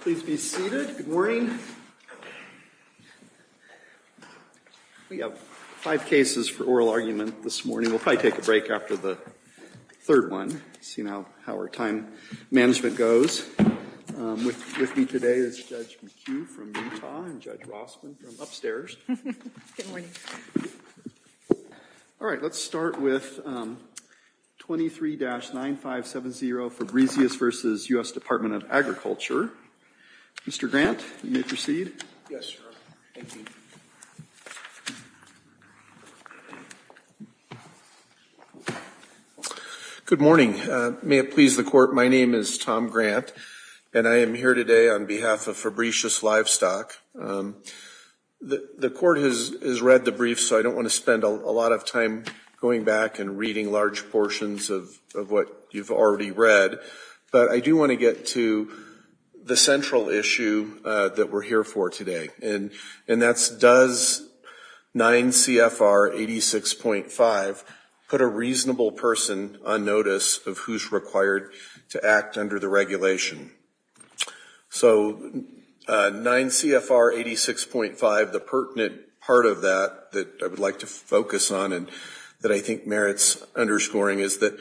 Please be seated. Good morning. We have five cases for oral argument this morning. We'll probably take a break after the third one, see how our time management goes. With me today is Judge McHugh from Utah and Judge Rossman from upstairs. All right, let's start with 23-9570 Fabrizius v. U.S. Department of Agriculture. Mr. Grant, you may proceed. Yes, sir. Thank you. Good morning. May it please the Court, my name is Tom Grant and I am here today on behalf of Fabrizius Livestock. The Court has read the brief, so I don't want to spend a lot of time going back and reading large portions of what you've already read, but I do want to get to the central issue that we're here for today, and that's does 9 CFR 86.5 put a reasonable person on notice of who's required to act under the regulation? So 9 CFR 86.5, the pertinent part of that that I would like to focus on and that I think merits underscoring is that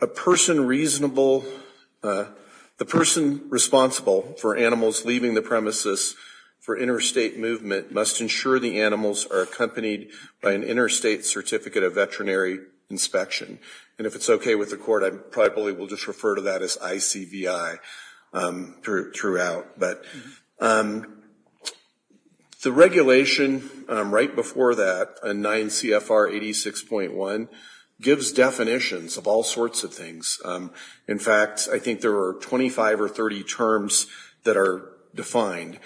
a person reasonable, the person responsible for animals leaving the premises for interstate movement must ensure the animals are accompanied by an interstate certificate of veterinary inspection. And if it's okay with the Court, I probably will just refer to that as ICVI throughout, but the regulation right before that, 9 CFR 86.1, gives definitions of all sorts of things. In fact, I think there are 25 or 30 terms that are defined,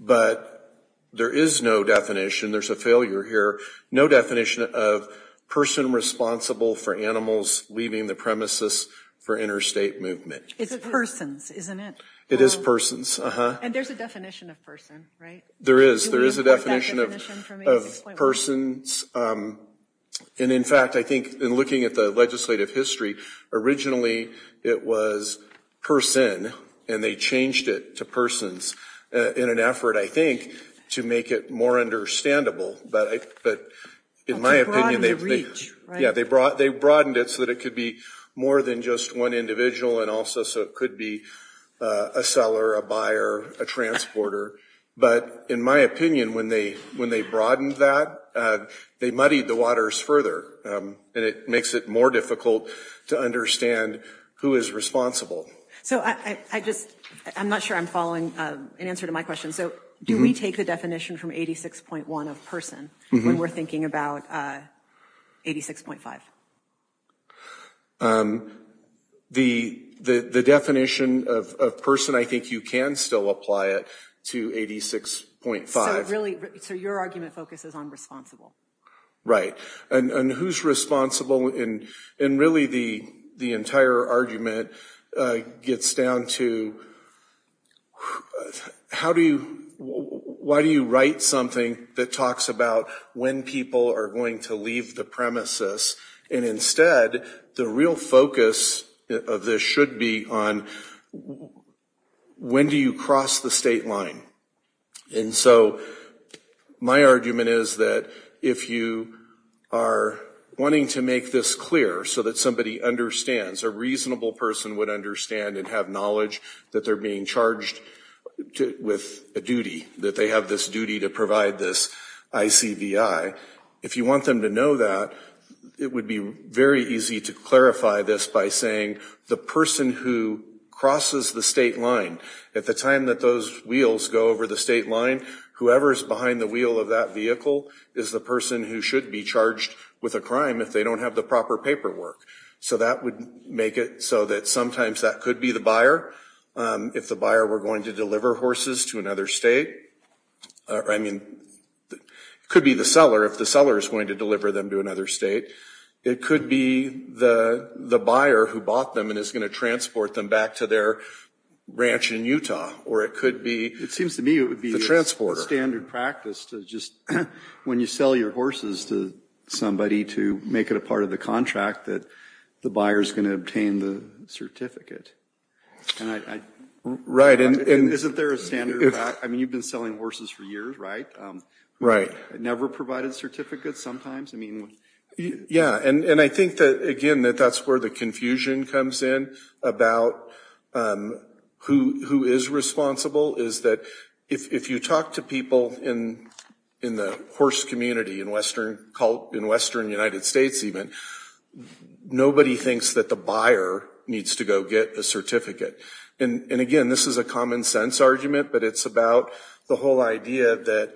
but there is no definition, there's a failure here, no definition of person responsible for animals leaving the premises for interstate movement. It's persons, isn't it? It is persons. And there's a definition of person, right? There is. There is a definition of persons. And in fact, I think in looking at the legislative history, originally it was person, and they changed it to persons in an effort, I think, to make it more understandable. But in my opinion, they broadened it so that it could be more than just one individual and also so it could be a seller, a buyer, a transporter. But in my opinion, when they broadened that, they muddied the waters further, and it makes it more difficult to understand who is responsible. So I just, I'm not sure I'm following an answer to my question. So do we take the definition from 86.1 of person when we're thinking about 86.5? The definition of person, I think you can still apply it to 86.5. So really, so your argument focuses on responsible. Right. And who's responsible? And really, the entire argument gets down to how do you, why do you write something that talks about when people are going to leave the premises? And instead, the real focus of this should be on when do you cross the state line? And so my argument is that if you are wanting to make this clear so that somebody understands, a reasonable person would understand and have knowledge that they're being charged with a duty, that they have this duty to provide this ICVI. If you want them to know that, it would be very easy to clarify this by saying the person who crosses the state line, at the time that those wheels go over the state line, whoever is behind the wheel of that vehicle is the person who should be charged with a crime if they don't have the proper paperwork. So that would make it so that sometimes that could be the buyer. If the buyer were going to deliver horses to another state, I mean, it could be the seller. If the seller is going to deliver them to another state, it could be the buyer who bought them and is going to transport them back to their ranch in Utah. Or it could be the transporter. It seems to me it would be a standard practice to just, when you sell your horses to somebody, to make it a part of the contract that the buyer is going to obtain the certificate. Right. Isn't there a standard? I mean, you've been selling horses for years, right? Right. Never provided certificates sometimes? Yeah, and I think that, again, that that's where the confusion comes in about who is responsible, is that if you talk to people in the horse community, in Western United States even, nobody thinks that the buyer needs to go get a certificate. And, again, this is a common sense argument, but it's about the whole idea that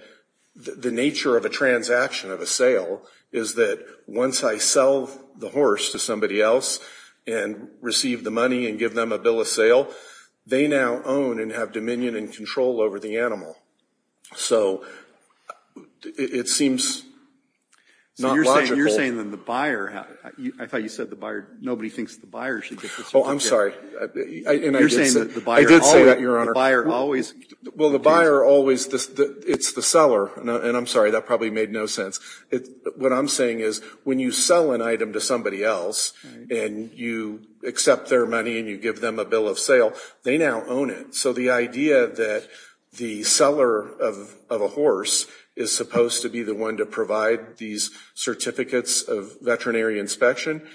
the nature of a transaction, of a sale, is that once I sell the horse to somebody else and receive the money and give them a bill of sale, they now own and have dominion and control over the animal. So it seems not logical. So you're saying then the buyer, I thought you said the buyer, nobody thinks the buyer should get the certificate. Oh, I'm sorry. I did say that, Your Honor. The buyer always. Well, the buyer always, it's the seller, and I'm sorry, that probably made no sense. What I'm saying is when you sell an item to somebody else and you accept their money and you give them a bill of sale, they now own it. So the idea that the seller of a horse is supposed to be the one to provide these certificates of veterinary inspection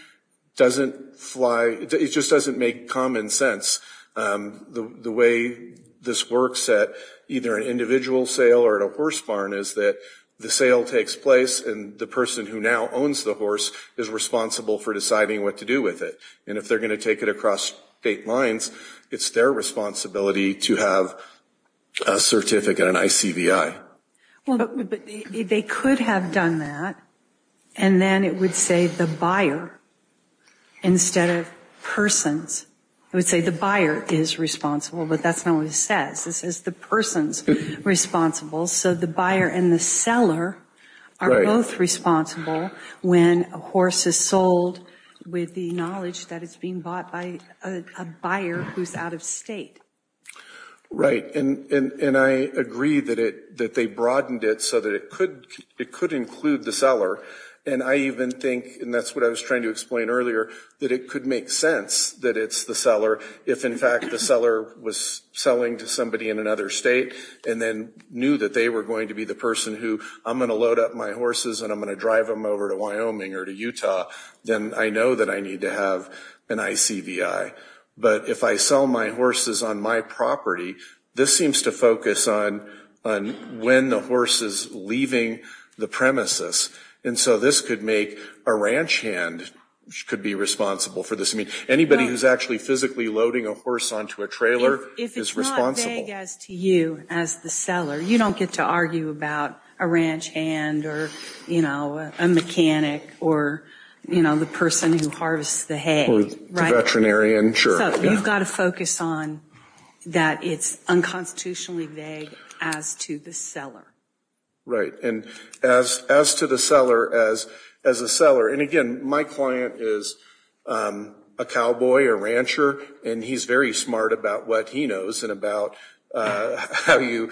doesn't fly, it just doesn't make common sense. The way this works at either an individual sale or at a horse barn is that the sale takes place and the person who now owns the horse is responsible for deciding what to do with it. And if they're going to take it across state lines, it's their responsibility to have a certificate, an ICVI. But they could have done that, and then it would say the buyer instead of persons. It would say the buyer is responsible, but that's not what it says. It says the person's responsible, so the buyer and the seller are both responsible when a horse is sold with the knowledge that it's being bought by a buyer who's out of state. Right, and I agree that they broadened it so that it could include the seller. And I even think, and that's what I was trying to explain earlier, that it could make sense that it's the seller if in fact the seller was selling to somebody in another state and then knew that they were going to be the person who, I'm going to load up my horses and I'm going to drive them over to Wyoming or to Utah, then I know that I need to have an ICVI. But if I sell my horses on my property, this seems to focus on when the horse is leaving the premises. And so this could make a ranch hand could be responsible for this. I mean, anybody who's actually physically loading a horse onto a trailer is responsible. If it's not vague as to you as the seller, you don't get to argue about a ranch hand or, you know, a mechanic or, you know, the person who harvests the hay. So you've got to focus on that it's unconstitutionally vague as to the seller. Right, and as to the seller as a seller. And again, my client is a cowboy, a rancher, and he's very smart about what he knows and about how you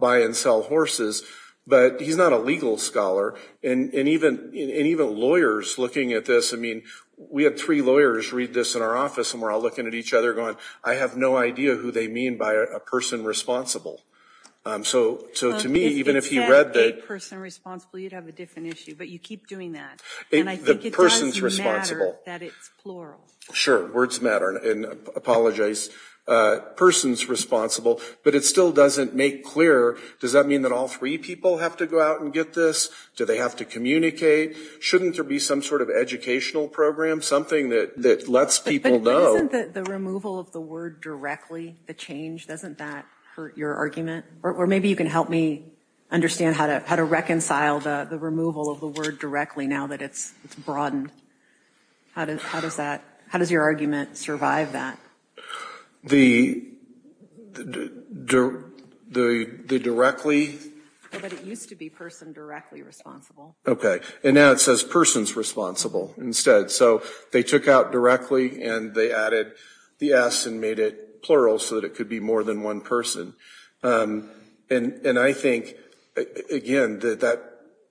buy and sell horses. But he's not a legal scholar. And even lawyers looking at this. I mean, we had three lawyers read this in our office and we're all looking at each other going, I have no idea who they mean by a person responsible. So to me, even if you read the person responsible, you'd have a different issue. But you keep doing that. And I think the person's responsible that it's plural. Sure. Words matter. And apologize. Person's responsible. But it still doesn't make clear. Does that mean that all three people have to go out and get this? Do they have to communicate? Shouldn't there be some sort of educational program? Something that lets people know. But isn't the removal of the word directly the change? Doesn't that hurt your argument? Or maybe you can help me understand how to reconcile the removal of the word directly now that it's broadened. How does that, how does your argument survive that? The directly. But it used to be person directly responsible. Okay. And now it says person's responsible instead. So they took out directly and they added the S and made it plural so that it could be more than one person. And I think, again, that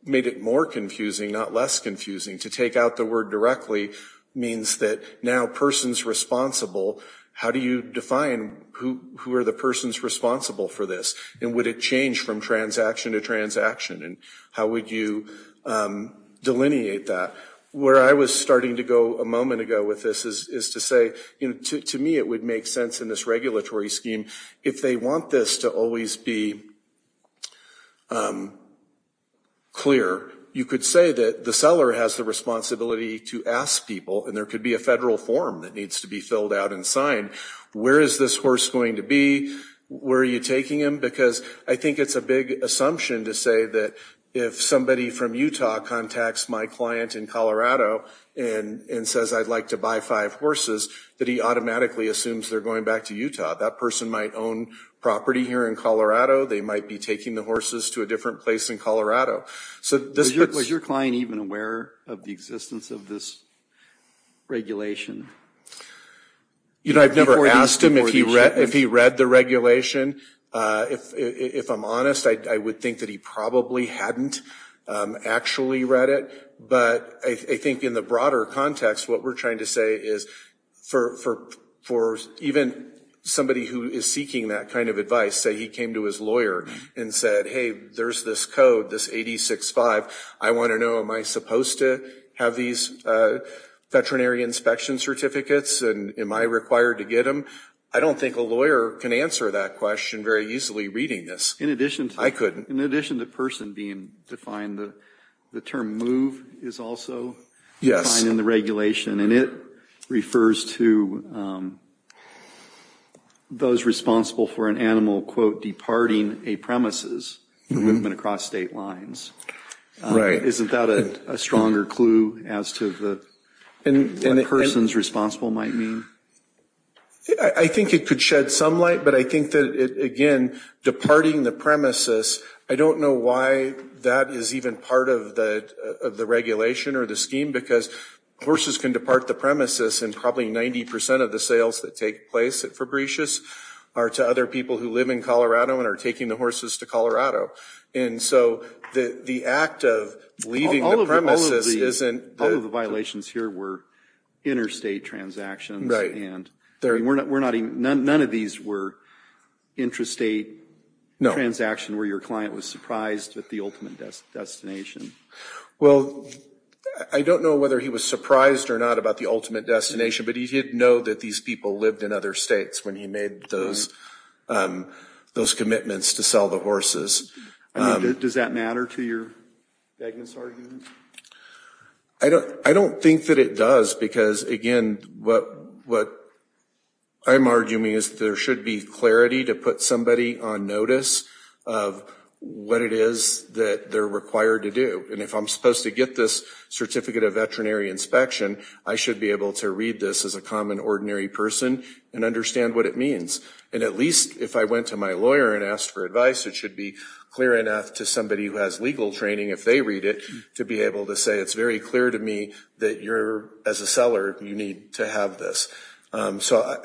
made it more confusing, not less confusing. To take out the word directly means that now person's responsible. How do you define who are the persons responsible for this? And would it change from transaction to transaction? And how would you delineate that? Where I was starting to go a moment ago with this is to say to me it would make sense in this regulatory scheme. If they want this to always be clear, you could say that the seller has the responsibility to ask people. And there could be a federal form that needs to be filled out and signed. Where is this horse going to be? Where are you taking him? Because I think it's a big assumption to say that if somebody from Utah contacts my client in Colorado and says I'd like to buy five horses, that he automatically assumes they're going back to Utah. That person might own property here in Colorado. They might be taking the horses to a different place in Colorado. Was your client even aware of the existence of this regulation? You know, I've never asked him if he read the regulation. If I'm honest, I would think that he probably hadn't actually read it. But I think in the broader context, what we're trying to say is for even somebody who is seeking that kind of advice, say he came to his lawyer and said, hey, there's this code, this 8065. I want to know am I supposed to have these veterinary inspection certificates and am I required to get them? I don't think a lawyer can answer that question very easily reading this. I couldn't. In addition to person being defined, the term move is also defined in the regulation, and it refers to those responsible for an animal, quote, departing a premises, movement across state lines. Right. Isn't that a stronger clue as to what persons responsible might mean? I think it could shed some light, but I think that, again, departing the premises, I don't know why that is even part of the regulation or the scheme, because horses can depart the premises and probably 90 percent of the sales that take place at Fabritius are to other people who live in Colorado and are taking the horses to Colorado. And so the act of leaving the premises isn't the... Right. None of these were intrastate transactions where your client was surprised at the ultimate destination. Well, I don't know whether he was surprised or not about the ultimate destination, but he did know that these people lived in other states when he made those commitments to sell the horses. Does that matter to your Begna's argument? I don't think that it does, because, again, what I'm arguing is there should be clarity to put somebody on notice of what it is that they're required to do. And if I'm supposed to get this certificate of veterinary inspection, I should be able to read this as a common, ordinary person and understand what it means. And at least if I went to my lawyer and asked for advice, it should be clear enough to somebody who has legal training, if they read it, to be able to say it's very clear to me that you're, as a seller, you need to have this. So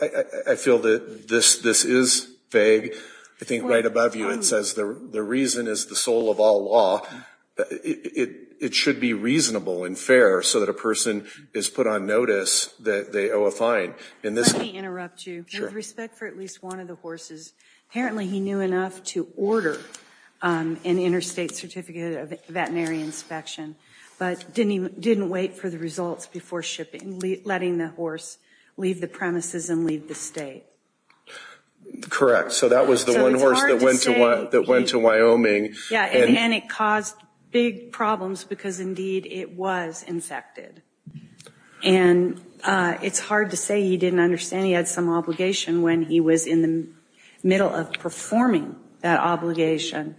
I feel that this is vague. I think right above you it says the reason is the soul of all law. It should be reasonable and fair so that a person is put on notice that they owe a fine. Let me interrupt you. With respect for at least one of the horses, apparently he knew enough to order an interstate certificate of veterinary inspection but didn't wait for the results before letting the horse leave the premises and leave the state. Correct. So that was the one horse that went to Wyoming. Yeah, and it caused big problems because, indeed, it was infected. And it's hard to say he didn't understand. He had some obligation when he was in the middle of performing that obligation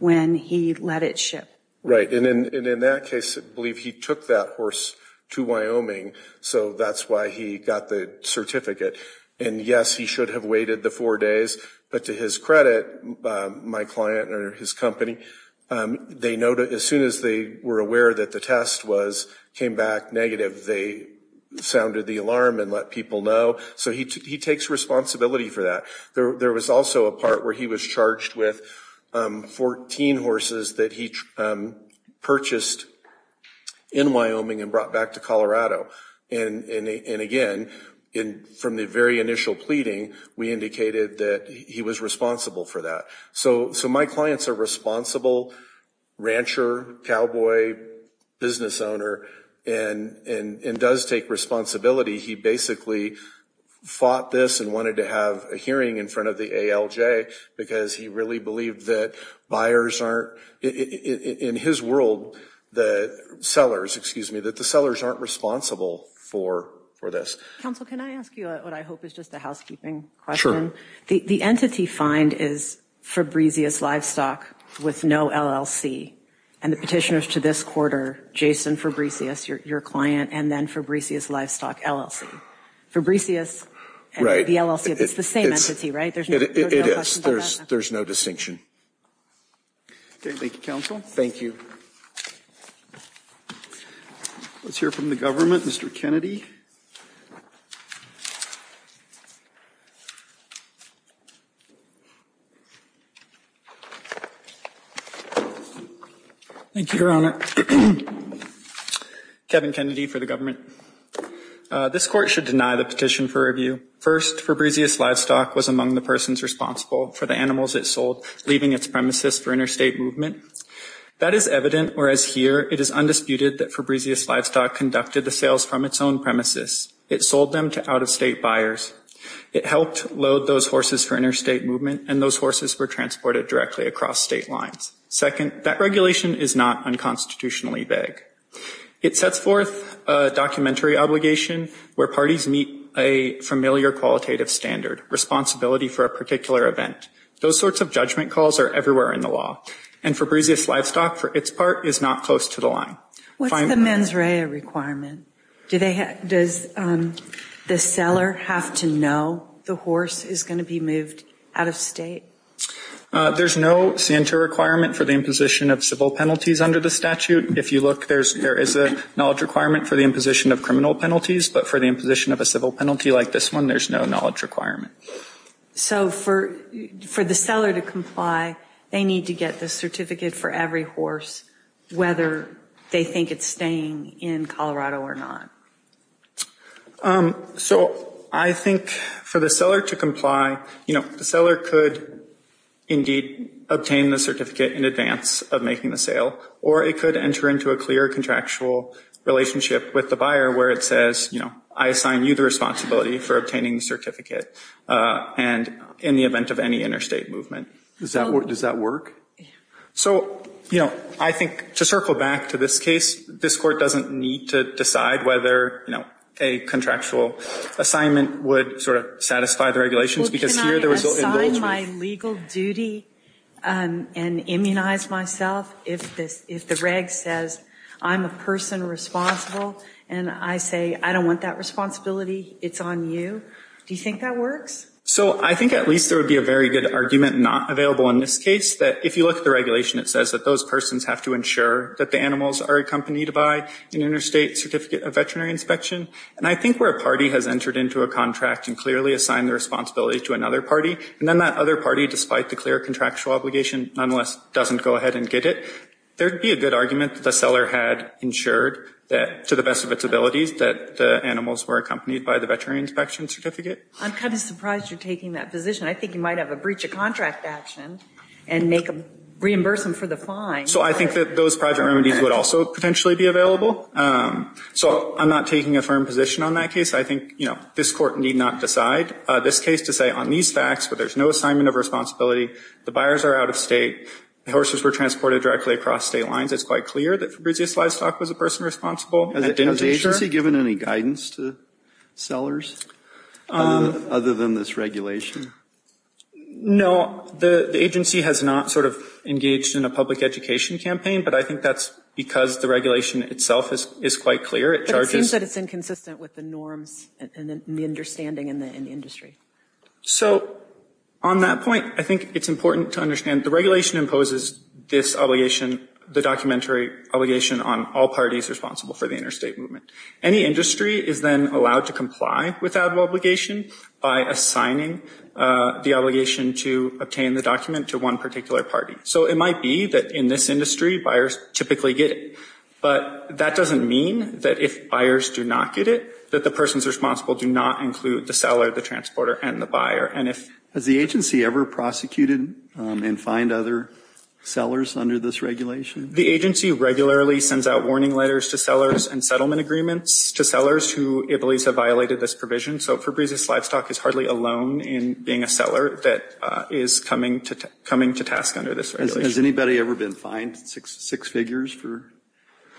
when he let it ship. Right, and in that case, I believe he took that horse to Wyoming. So that's why he got the certificate. And, yes, he should have waited the four days. But to his credit, my client or his company, as soon as they were aware that the test came back negative, they sounded the alarm and let people know. So he takes responsibility for that. There was also a part where he was charged with 14 horses that he purchased in Wyoming and brought back to Colorado. And, again, from the very initial pleading, we indicated that he was responsible for that. So my clients are responsible rancher, cowboy, business owner, and does take responsibility. He basically fought this and wanted to have a hearing in front of the ALJ because he really believed that buyers aren't, in his world, the sellers, excuse me, that the sellers aren't responsible for this. Counsel, can I ask you what I hope is just a housekeeping question? The entity find is Fabricius Livestock with no LLC. And the petitioners to this quarter, Jason Fabricius, your client, and then Fabricius Livestock LLC. Fabricius and the LLC, it's the same entity, right? It is. There's no distinction. Thank you, Counsel. Thank you. Let's hear from the government. Mr. Kennedy. Thank you, Your Honor. Kevin Kennedy for the government. This court should deny the petition for review. First, Fabricius Livestock was among the persons responsible for the animals it sold, leaving its premises for interstate movement. That is evident, whereas here it is undisputed that Fabricius Livestock conducted the sales from its own premises. It sold them to out-of-state buyers. It helped load those horses for interstate movement, and those horses were transported directly across state lines. Second, that regulation is not unconstitutionally vague. It sets forth a documentary obligation where parties meet a familiar qualitative standard, responsibility for a particular event. Those sorts of judgment calls are everywhere in the law. And Fabricius Livestock, for its part, is not close to the line. What's the mens rea requirement? Does the seller have to know the horse is going to be moved out-of-state? There's no santa requirement for the imposition of civil penalties under the statute. If you look, there is a knowledge requirement for the imposition of criminal penalties, but for the imposition of a civil penalty like this one, there's no knowledge requirement. So for the seller to comply, they need to get the certificate for every horse, whether they think it's staying in Colorado or not. So I think for the seller to comply, you know, the seller could indeed obtain the certificate in advance of making the sale, or it could enter into a clear contractual relationship with the buyer where it says, you know, I assign you the responsibility for obtaining the certificate in the event of any interstate movement. Does that work? So, you know, I think to circle back to this case, this court doesn't need to decide whether, you know, a contractual assignment would sort of satisfy the regulations because here the result involves- Well, can I assign my legal duty and immunize myself if the reg says I'm a person responsible and I say I don't want that responsibility, it's on you? Do you think that works? So I think at least there would be a very good argument not available in this case that if you look at the regulation, it says that those persons have to ensure that the animals are accompanied by an interstate certificate of veterinary inspection. And I think where a party has entered into a contract and clearly assigned the responsibility to another party, and then that other party, despite the clear contractual obligation, nonetheless doesn't go ahead and get it, there would be a good argument that the seller had ensured that, to the best of its abilities, that the animals were accompanied by the veterinary inspection certificate. I'm kind of surprised you're taking that position. I think you might have a breach of contract action and reimburse them for the fine. So I think that those private remedies would also potentially be available. So I'm not taking a firm position on that case. I think, you know, this court need not decide this case to say on these facts, where there's no assignment of responsibility, the buyers are out of state, the horses were transported directly across state lines, it's quite clear that Fabrizio Slidestock was a person responsible. Has the agency given any guidance to sellers? Other than this regulation? No, the agency has not sort of engaged in a public education campaign, but I think that's because the regulation itself is quite clear. But it seems that it's inconsistent with the norms and the understanding in the industry. So on that point, I think it's important to understand the regulation imposes this obligation, the documentary obligation on all parties responsible for the interstate movement. Any industry is then allowed to comply with that obligation by assigning the obligation to obtain the document to one particular party. So it might be that in this industry, buyers typically get it. But that doesn't mean that if buyers do not get it, that the persons responsible do not include the seller, the transporter, and the buyer. Has the agency ever prosecuted and fined other sellers under this regulation? The agency regularly sends out warning letters to sellers and settlement agreements to sellers who it believes have violated this provision. So Fabrizio Slidestock is hardly alone in being a seller that is coming to task under this regulation. Has anybody ever been fined six figures for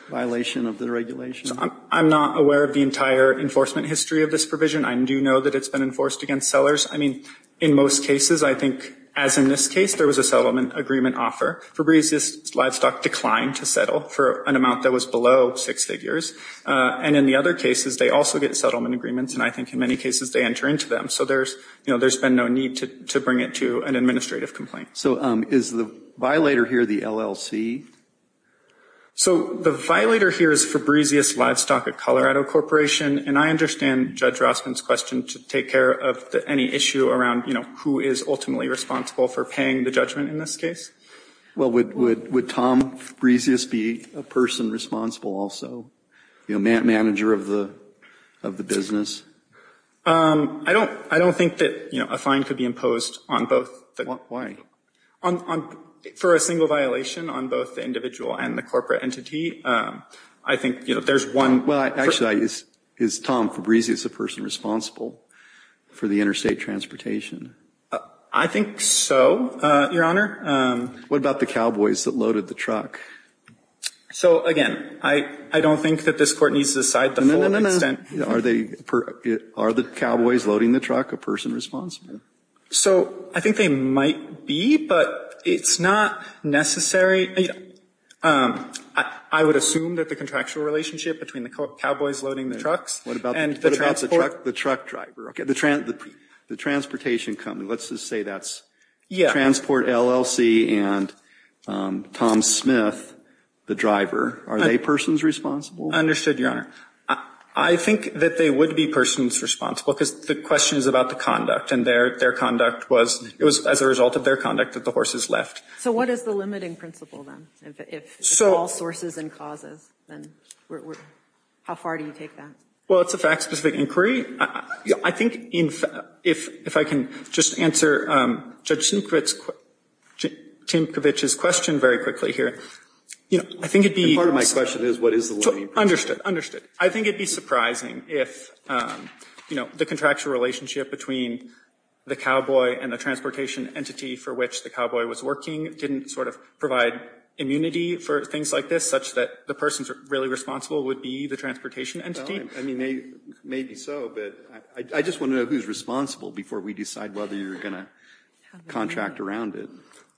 violation of the regulation? I'm not aware of the entire enforcement history of this provision. I do know that it's been enforced against sellers. I mean, in most cases, I think, as in this case, there was a settlement agreement offer. Fabrizio Slidestock declined to settle for an amount that was below six figures. And in the other cases, they also get settlement agreements. And I think in many cases, they enter into them. So there's been no need to bring it to an administrative complaint. So is the violator here the LLC? So the violator here is Fabrizio Slidestock at Colorado Corporation. And I understand Judge Rossman's question to take care of any issue around, you know, who is ultimately responsible for paying the judgment in this case? Well, would Tom Fabrizio be a person responsible also, you know, manager of the business? I don't think that, you know, a fine could be imposed on both. Why? For a single violation on both the individual and the corporate entity, I think, you know, there's one. Well, actually, is Tom Fabrizio a person responsible for the interstate transportation? I think so, Your Honor. What about the cowboys that loaded the truck? So, again, I don't think that this Court needs to decide the full extent. Are the cowboys loading the truck a person responsible? So I think they might be, but it's not necessary. I would assume that the contractual relationship between the cowboys loading the trucks and the transport What about the truck driver? The transportation company. Let's just say that's Transport LLC and Tom Smith, the driver. Are they persons responsible? Understood, Your Honor. I think that they would be persons responsible because the question is about the conduct. And their conduct was, it was as a result of their conduct that the horses left. So what is the limiting principle, then? If it's all sources and causes, then how far do you take that? Well, it's a fact-specific inquiry. I think if I can just answer Judge Tinkovich's question very quickly here. You know, I think it'd be Part of my question is, what is the limiting principle? Understood, understood. I think it'd be surprising if, you know, the contractual relationship between the cowboy and the transportation entity for which the cowboy was working didn't sort of provide immunity for things like this, such that the persons really responsible would be the transportation entity. I mean, maybe so, but I just want to know who's responsible before we decide whether you're going to contract around it.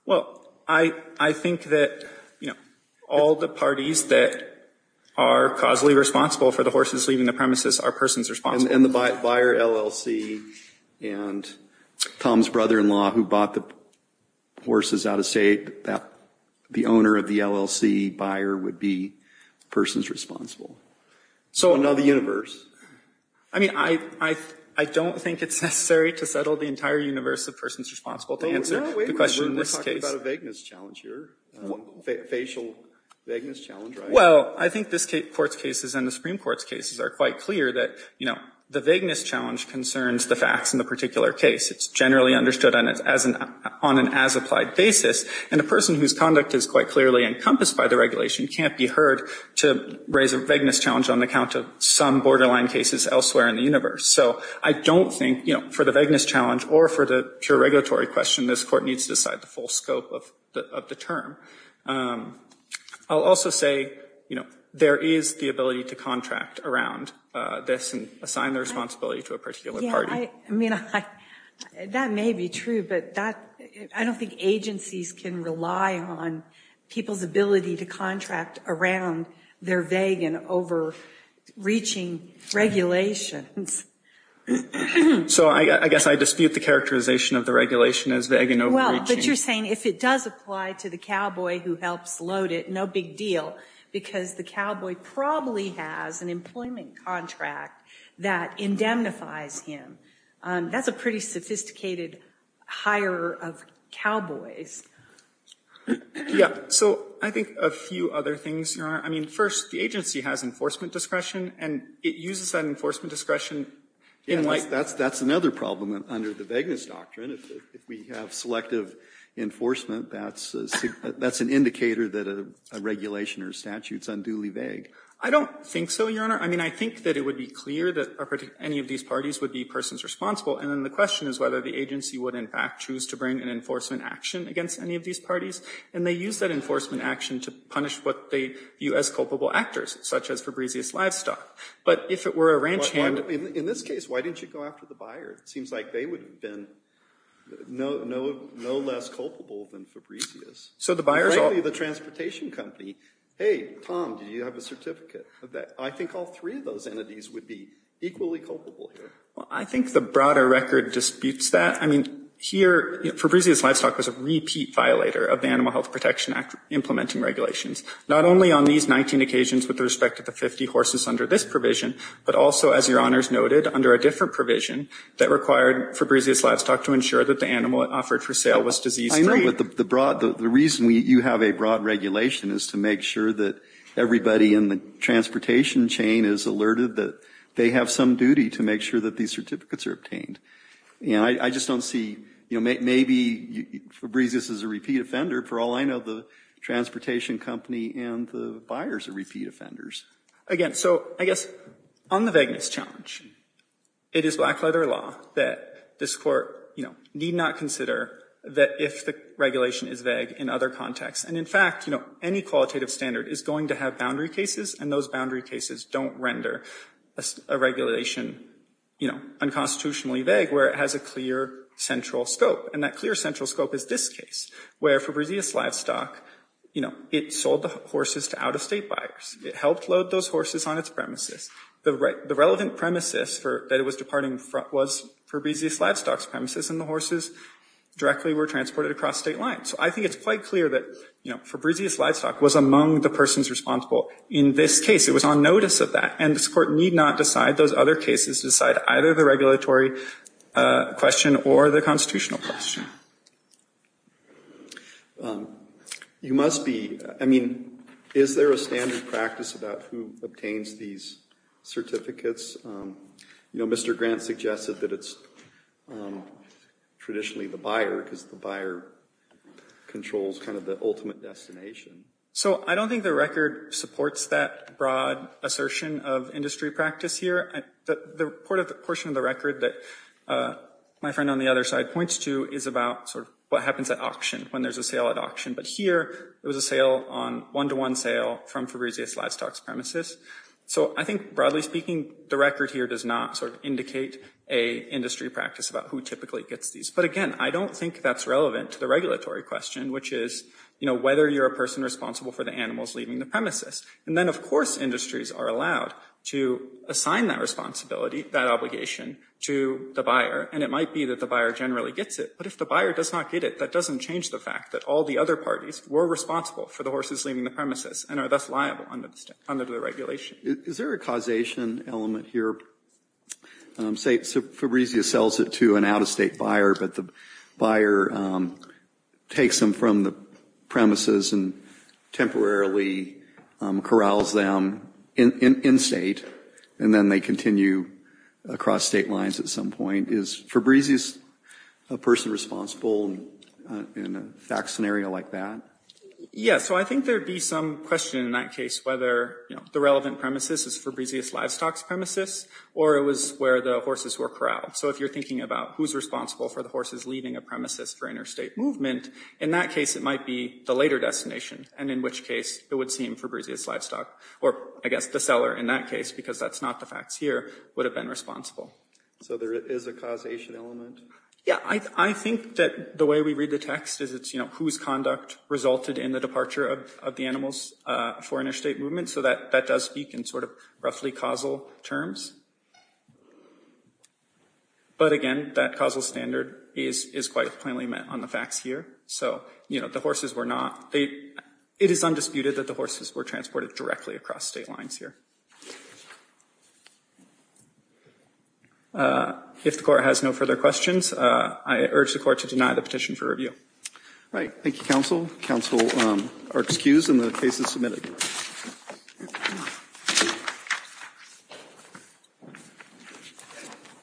Well, I think that, you know, all the parties that are causally responsible for the horses leaving the premises are persons responsible. And the buyer, LLC, and Tom's brother-in-law who bought the horses out of state, the owner of the LLC buyer would be persons responsible. So another universe. I mean, I don't think it's necessary to settle the entire universe of persons responsible to answer the question. We're talking about a vagueness challenge here. Facial vagueness challenge, right? Well, I think this Court's cases and the Supreme Court's cases are quite clear that, you know, the vagueness challenge concerns the facts in the particular case. It's generally understood on an as-applied basis, and a person whose conduct is quite clearly encompassed by the regulation can't be heard to raise a vagueness challenge on account of some borderline cases elsewhere in the universe. So I don't think, you know, for the vagueness challenge or for the pure regulatory question, this Court needs to decide the full scope of the term. I'll also say, you know, there is the ability to contract around this and assign the responsibility to a particular party. I mean, that may be true, but I don't think agencies can rely on people's ability to contract around their vague and overreaching regulations. So I guess I dispute the characterization of the regulation as vague and overreaching. Well, but you're saying if it does apply to the cowboy who helps load it, no big deal, because the cowboy probably has an employment contract that indemnifies him. That's a pretty sophisticated hire of cowboys. Yeah. So I think a few other things, Your Honor. I mean, first, the agency has enforcement discretion, and it uses that enforcement discretion in light of the statute. That's another problem under the vagueness doctrine. I mean, if we have selective enforcement, that's an indicator that a regulation or a statute is unduly vague. I don't think so, Your Honor. I mean, I think that it would be clear that any of these parties would be persons responsible, and then the question is whether the agency would, in fact, choose to bring an enforcement action against any of these parties. And they use that enforcement action to punish what they view as culpable actors, such as Fabrizious Livestock. But if it were a ranch hand. In this case, why didn't you go after the buyer? It seems like they would have been no less culpable than Fabrizious. Frankly, the transportation company, hey, Tom, do you have a certificate of that? I think all three of those entities would be equally culpable here. Well, I think the broader record disputes that. I mean, here Fabrizious Livestock was a repeat violator of the Animal Health Protection Act implementing regulations, not only on these 19 occasions with respect to the 50 horses under this provision, but also, as Your Honors noted, under a different provision that required Fabrizious Livestock to ensure that the animal offered for sale was disease free. I know, but the reason you have a broad regulation is to make sure that everybody in the transportation chain is alerted that they have some duty to make sure that these certificates are obtained. And I just don't see, you know, maybe Fabrizious is a repeat offender. For all I know, the transportation company and the buyers are repeat offenders. Again, so I guess on the vagueness challenge, it is black letter law that this court, you know, need not consider that if the regulation is vague in other contexts. And in fact, you know, any qualitative standard is going to have boundary cases, and those boundary cases don't render a regulation, you know, unconstitutionally vague where it has a clear central scope. And that clear central scope is this case, where Fabrizious Livestock, you know, it sold the horses to out-of-state buyers. It helped load those horses on its premises. The relevant premises that it was departing from was Fabrizious Livestock's premises, and the horses directly were transported across state lines. So I think it's quite clear that, you know, Fabrizious Livestock was among the persons responsible in this case. It was on notice of that, and this court need not decide those other cases, decide either the regulatory question or the constitutional question. You must be, I mean, is there a standard practice about who obtains these certificates? You know, Mr. Grant suggested that it's traditionally the buyer, because the buyer controls kind of the ultimate destination. So I don't think the record supports that broad assertion of industry practice here. The portion of the record that my friend on the other side points to is about sort of what happens at auction, when there's a sale at auction. But here, it was a sale on one-to-one sale from Fabrizious Livestock's premises. So I think, broadly speaking, the record here does not sort of indicate a industry practice about who typically gets these. But again, I don't think that's relevant to the regulatory question, which is, you know, whether you're a person responsible for the animals leaving the premises. And then, of course, industries are allowed to assign that responsibility, that obligation, to the buyer. And it might be that the buyer generally gets it. But if the buyer does not get it, that doesn't change the fact that all the other parties were responsible for the horses leaving the premises and are thus liable under the regulation. Is there a causation element here? Say Fabrizious sells it to an out-of-state buyer, but the buyer takes them from the premises and temporarily corrals them in-state, and then they continue moving across state lines at some point. Is Fabrizious a person responsible in a fact scenario like that? Yes. So I think there would be some question in that case whether the relevant premises is Fabrizious Livestock's premises or it was where the horses were corralled. So if you're thinking about who's responsible for the horses leaving a premises for interstate movement, in that case it might be the later destination, and in which case it would seem Fabrizious Livestock, or I guess the seller in that case, because that's not the facts here, would have been responsible. So there is a causation element? Yeah. I think that the way we read the text is it's whose conduct resulted in the departure of the animals for interstate movement. So that does speak in sort of roughly causal terms. But again, that causal standard is quite plainly met on the facts here. So the horses were not – it is undisputed that the horses were transported directly across state lines here. If the Court has no further questions, I urge the Court to deny the petition for All right. Thank you, counsel. Counsel are excused, and the case is submitted.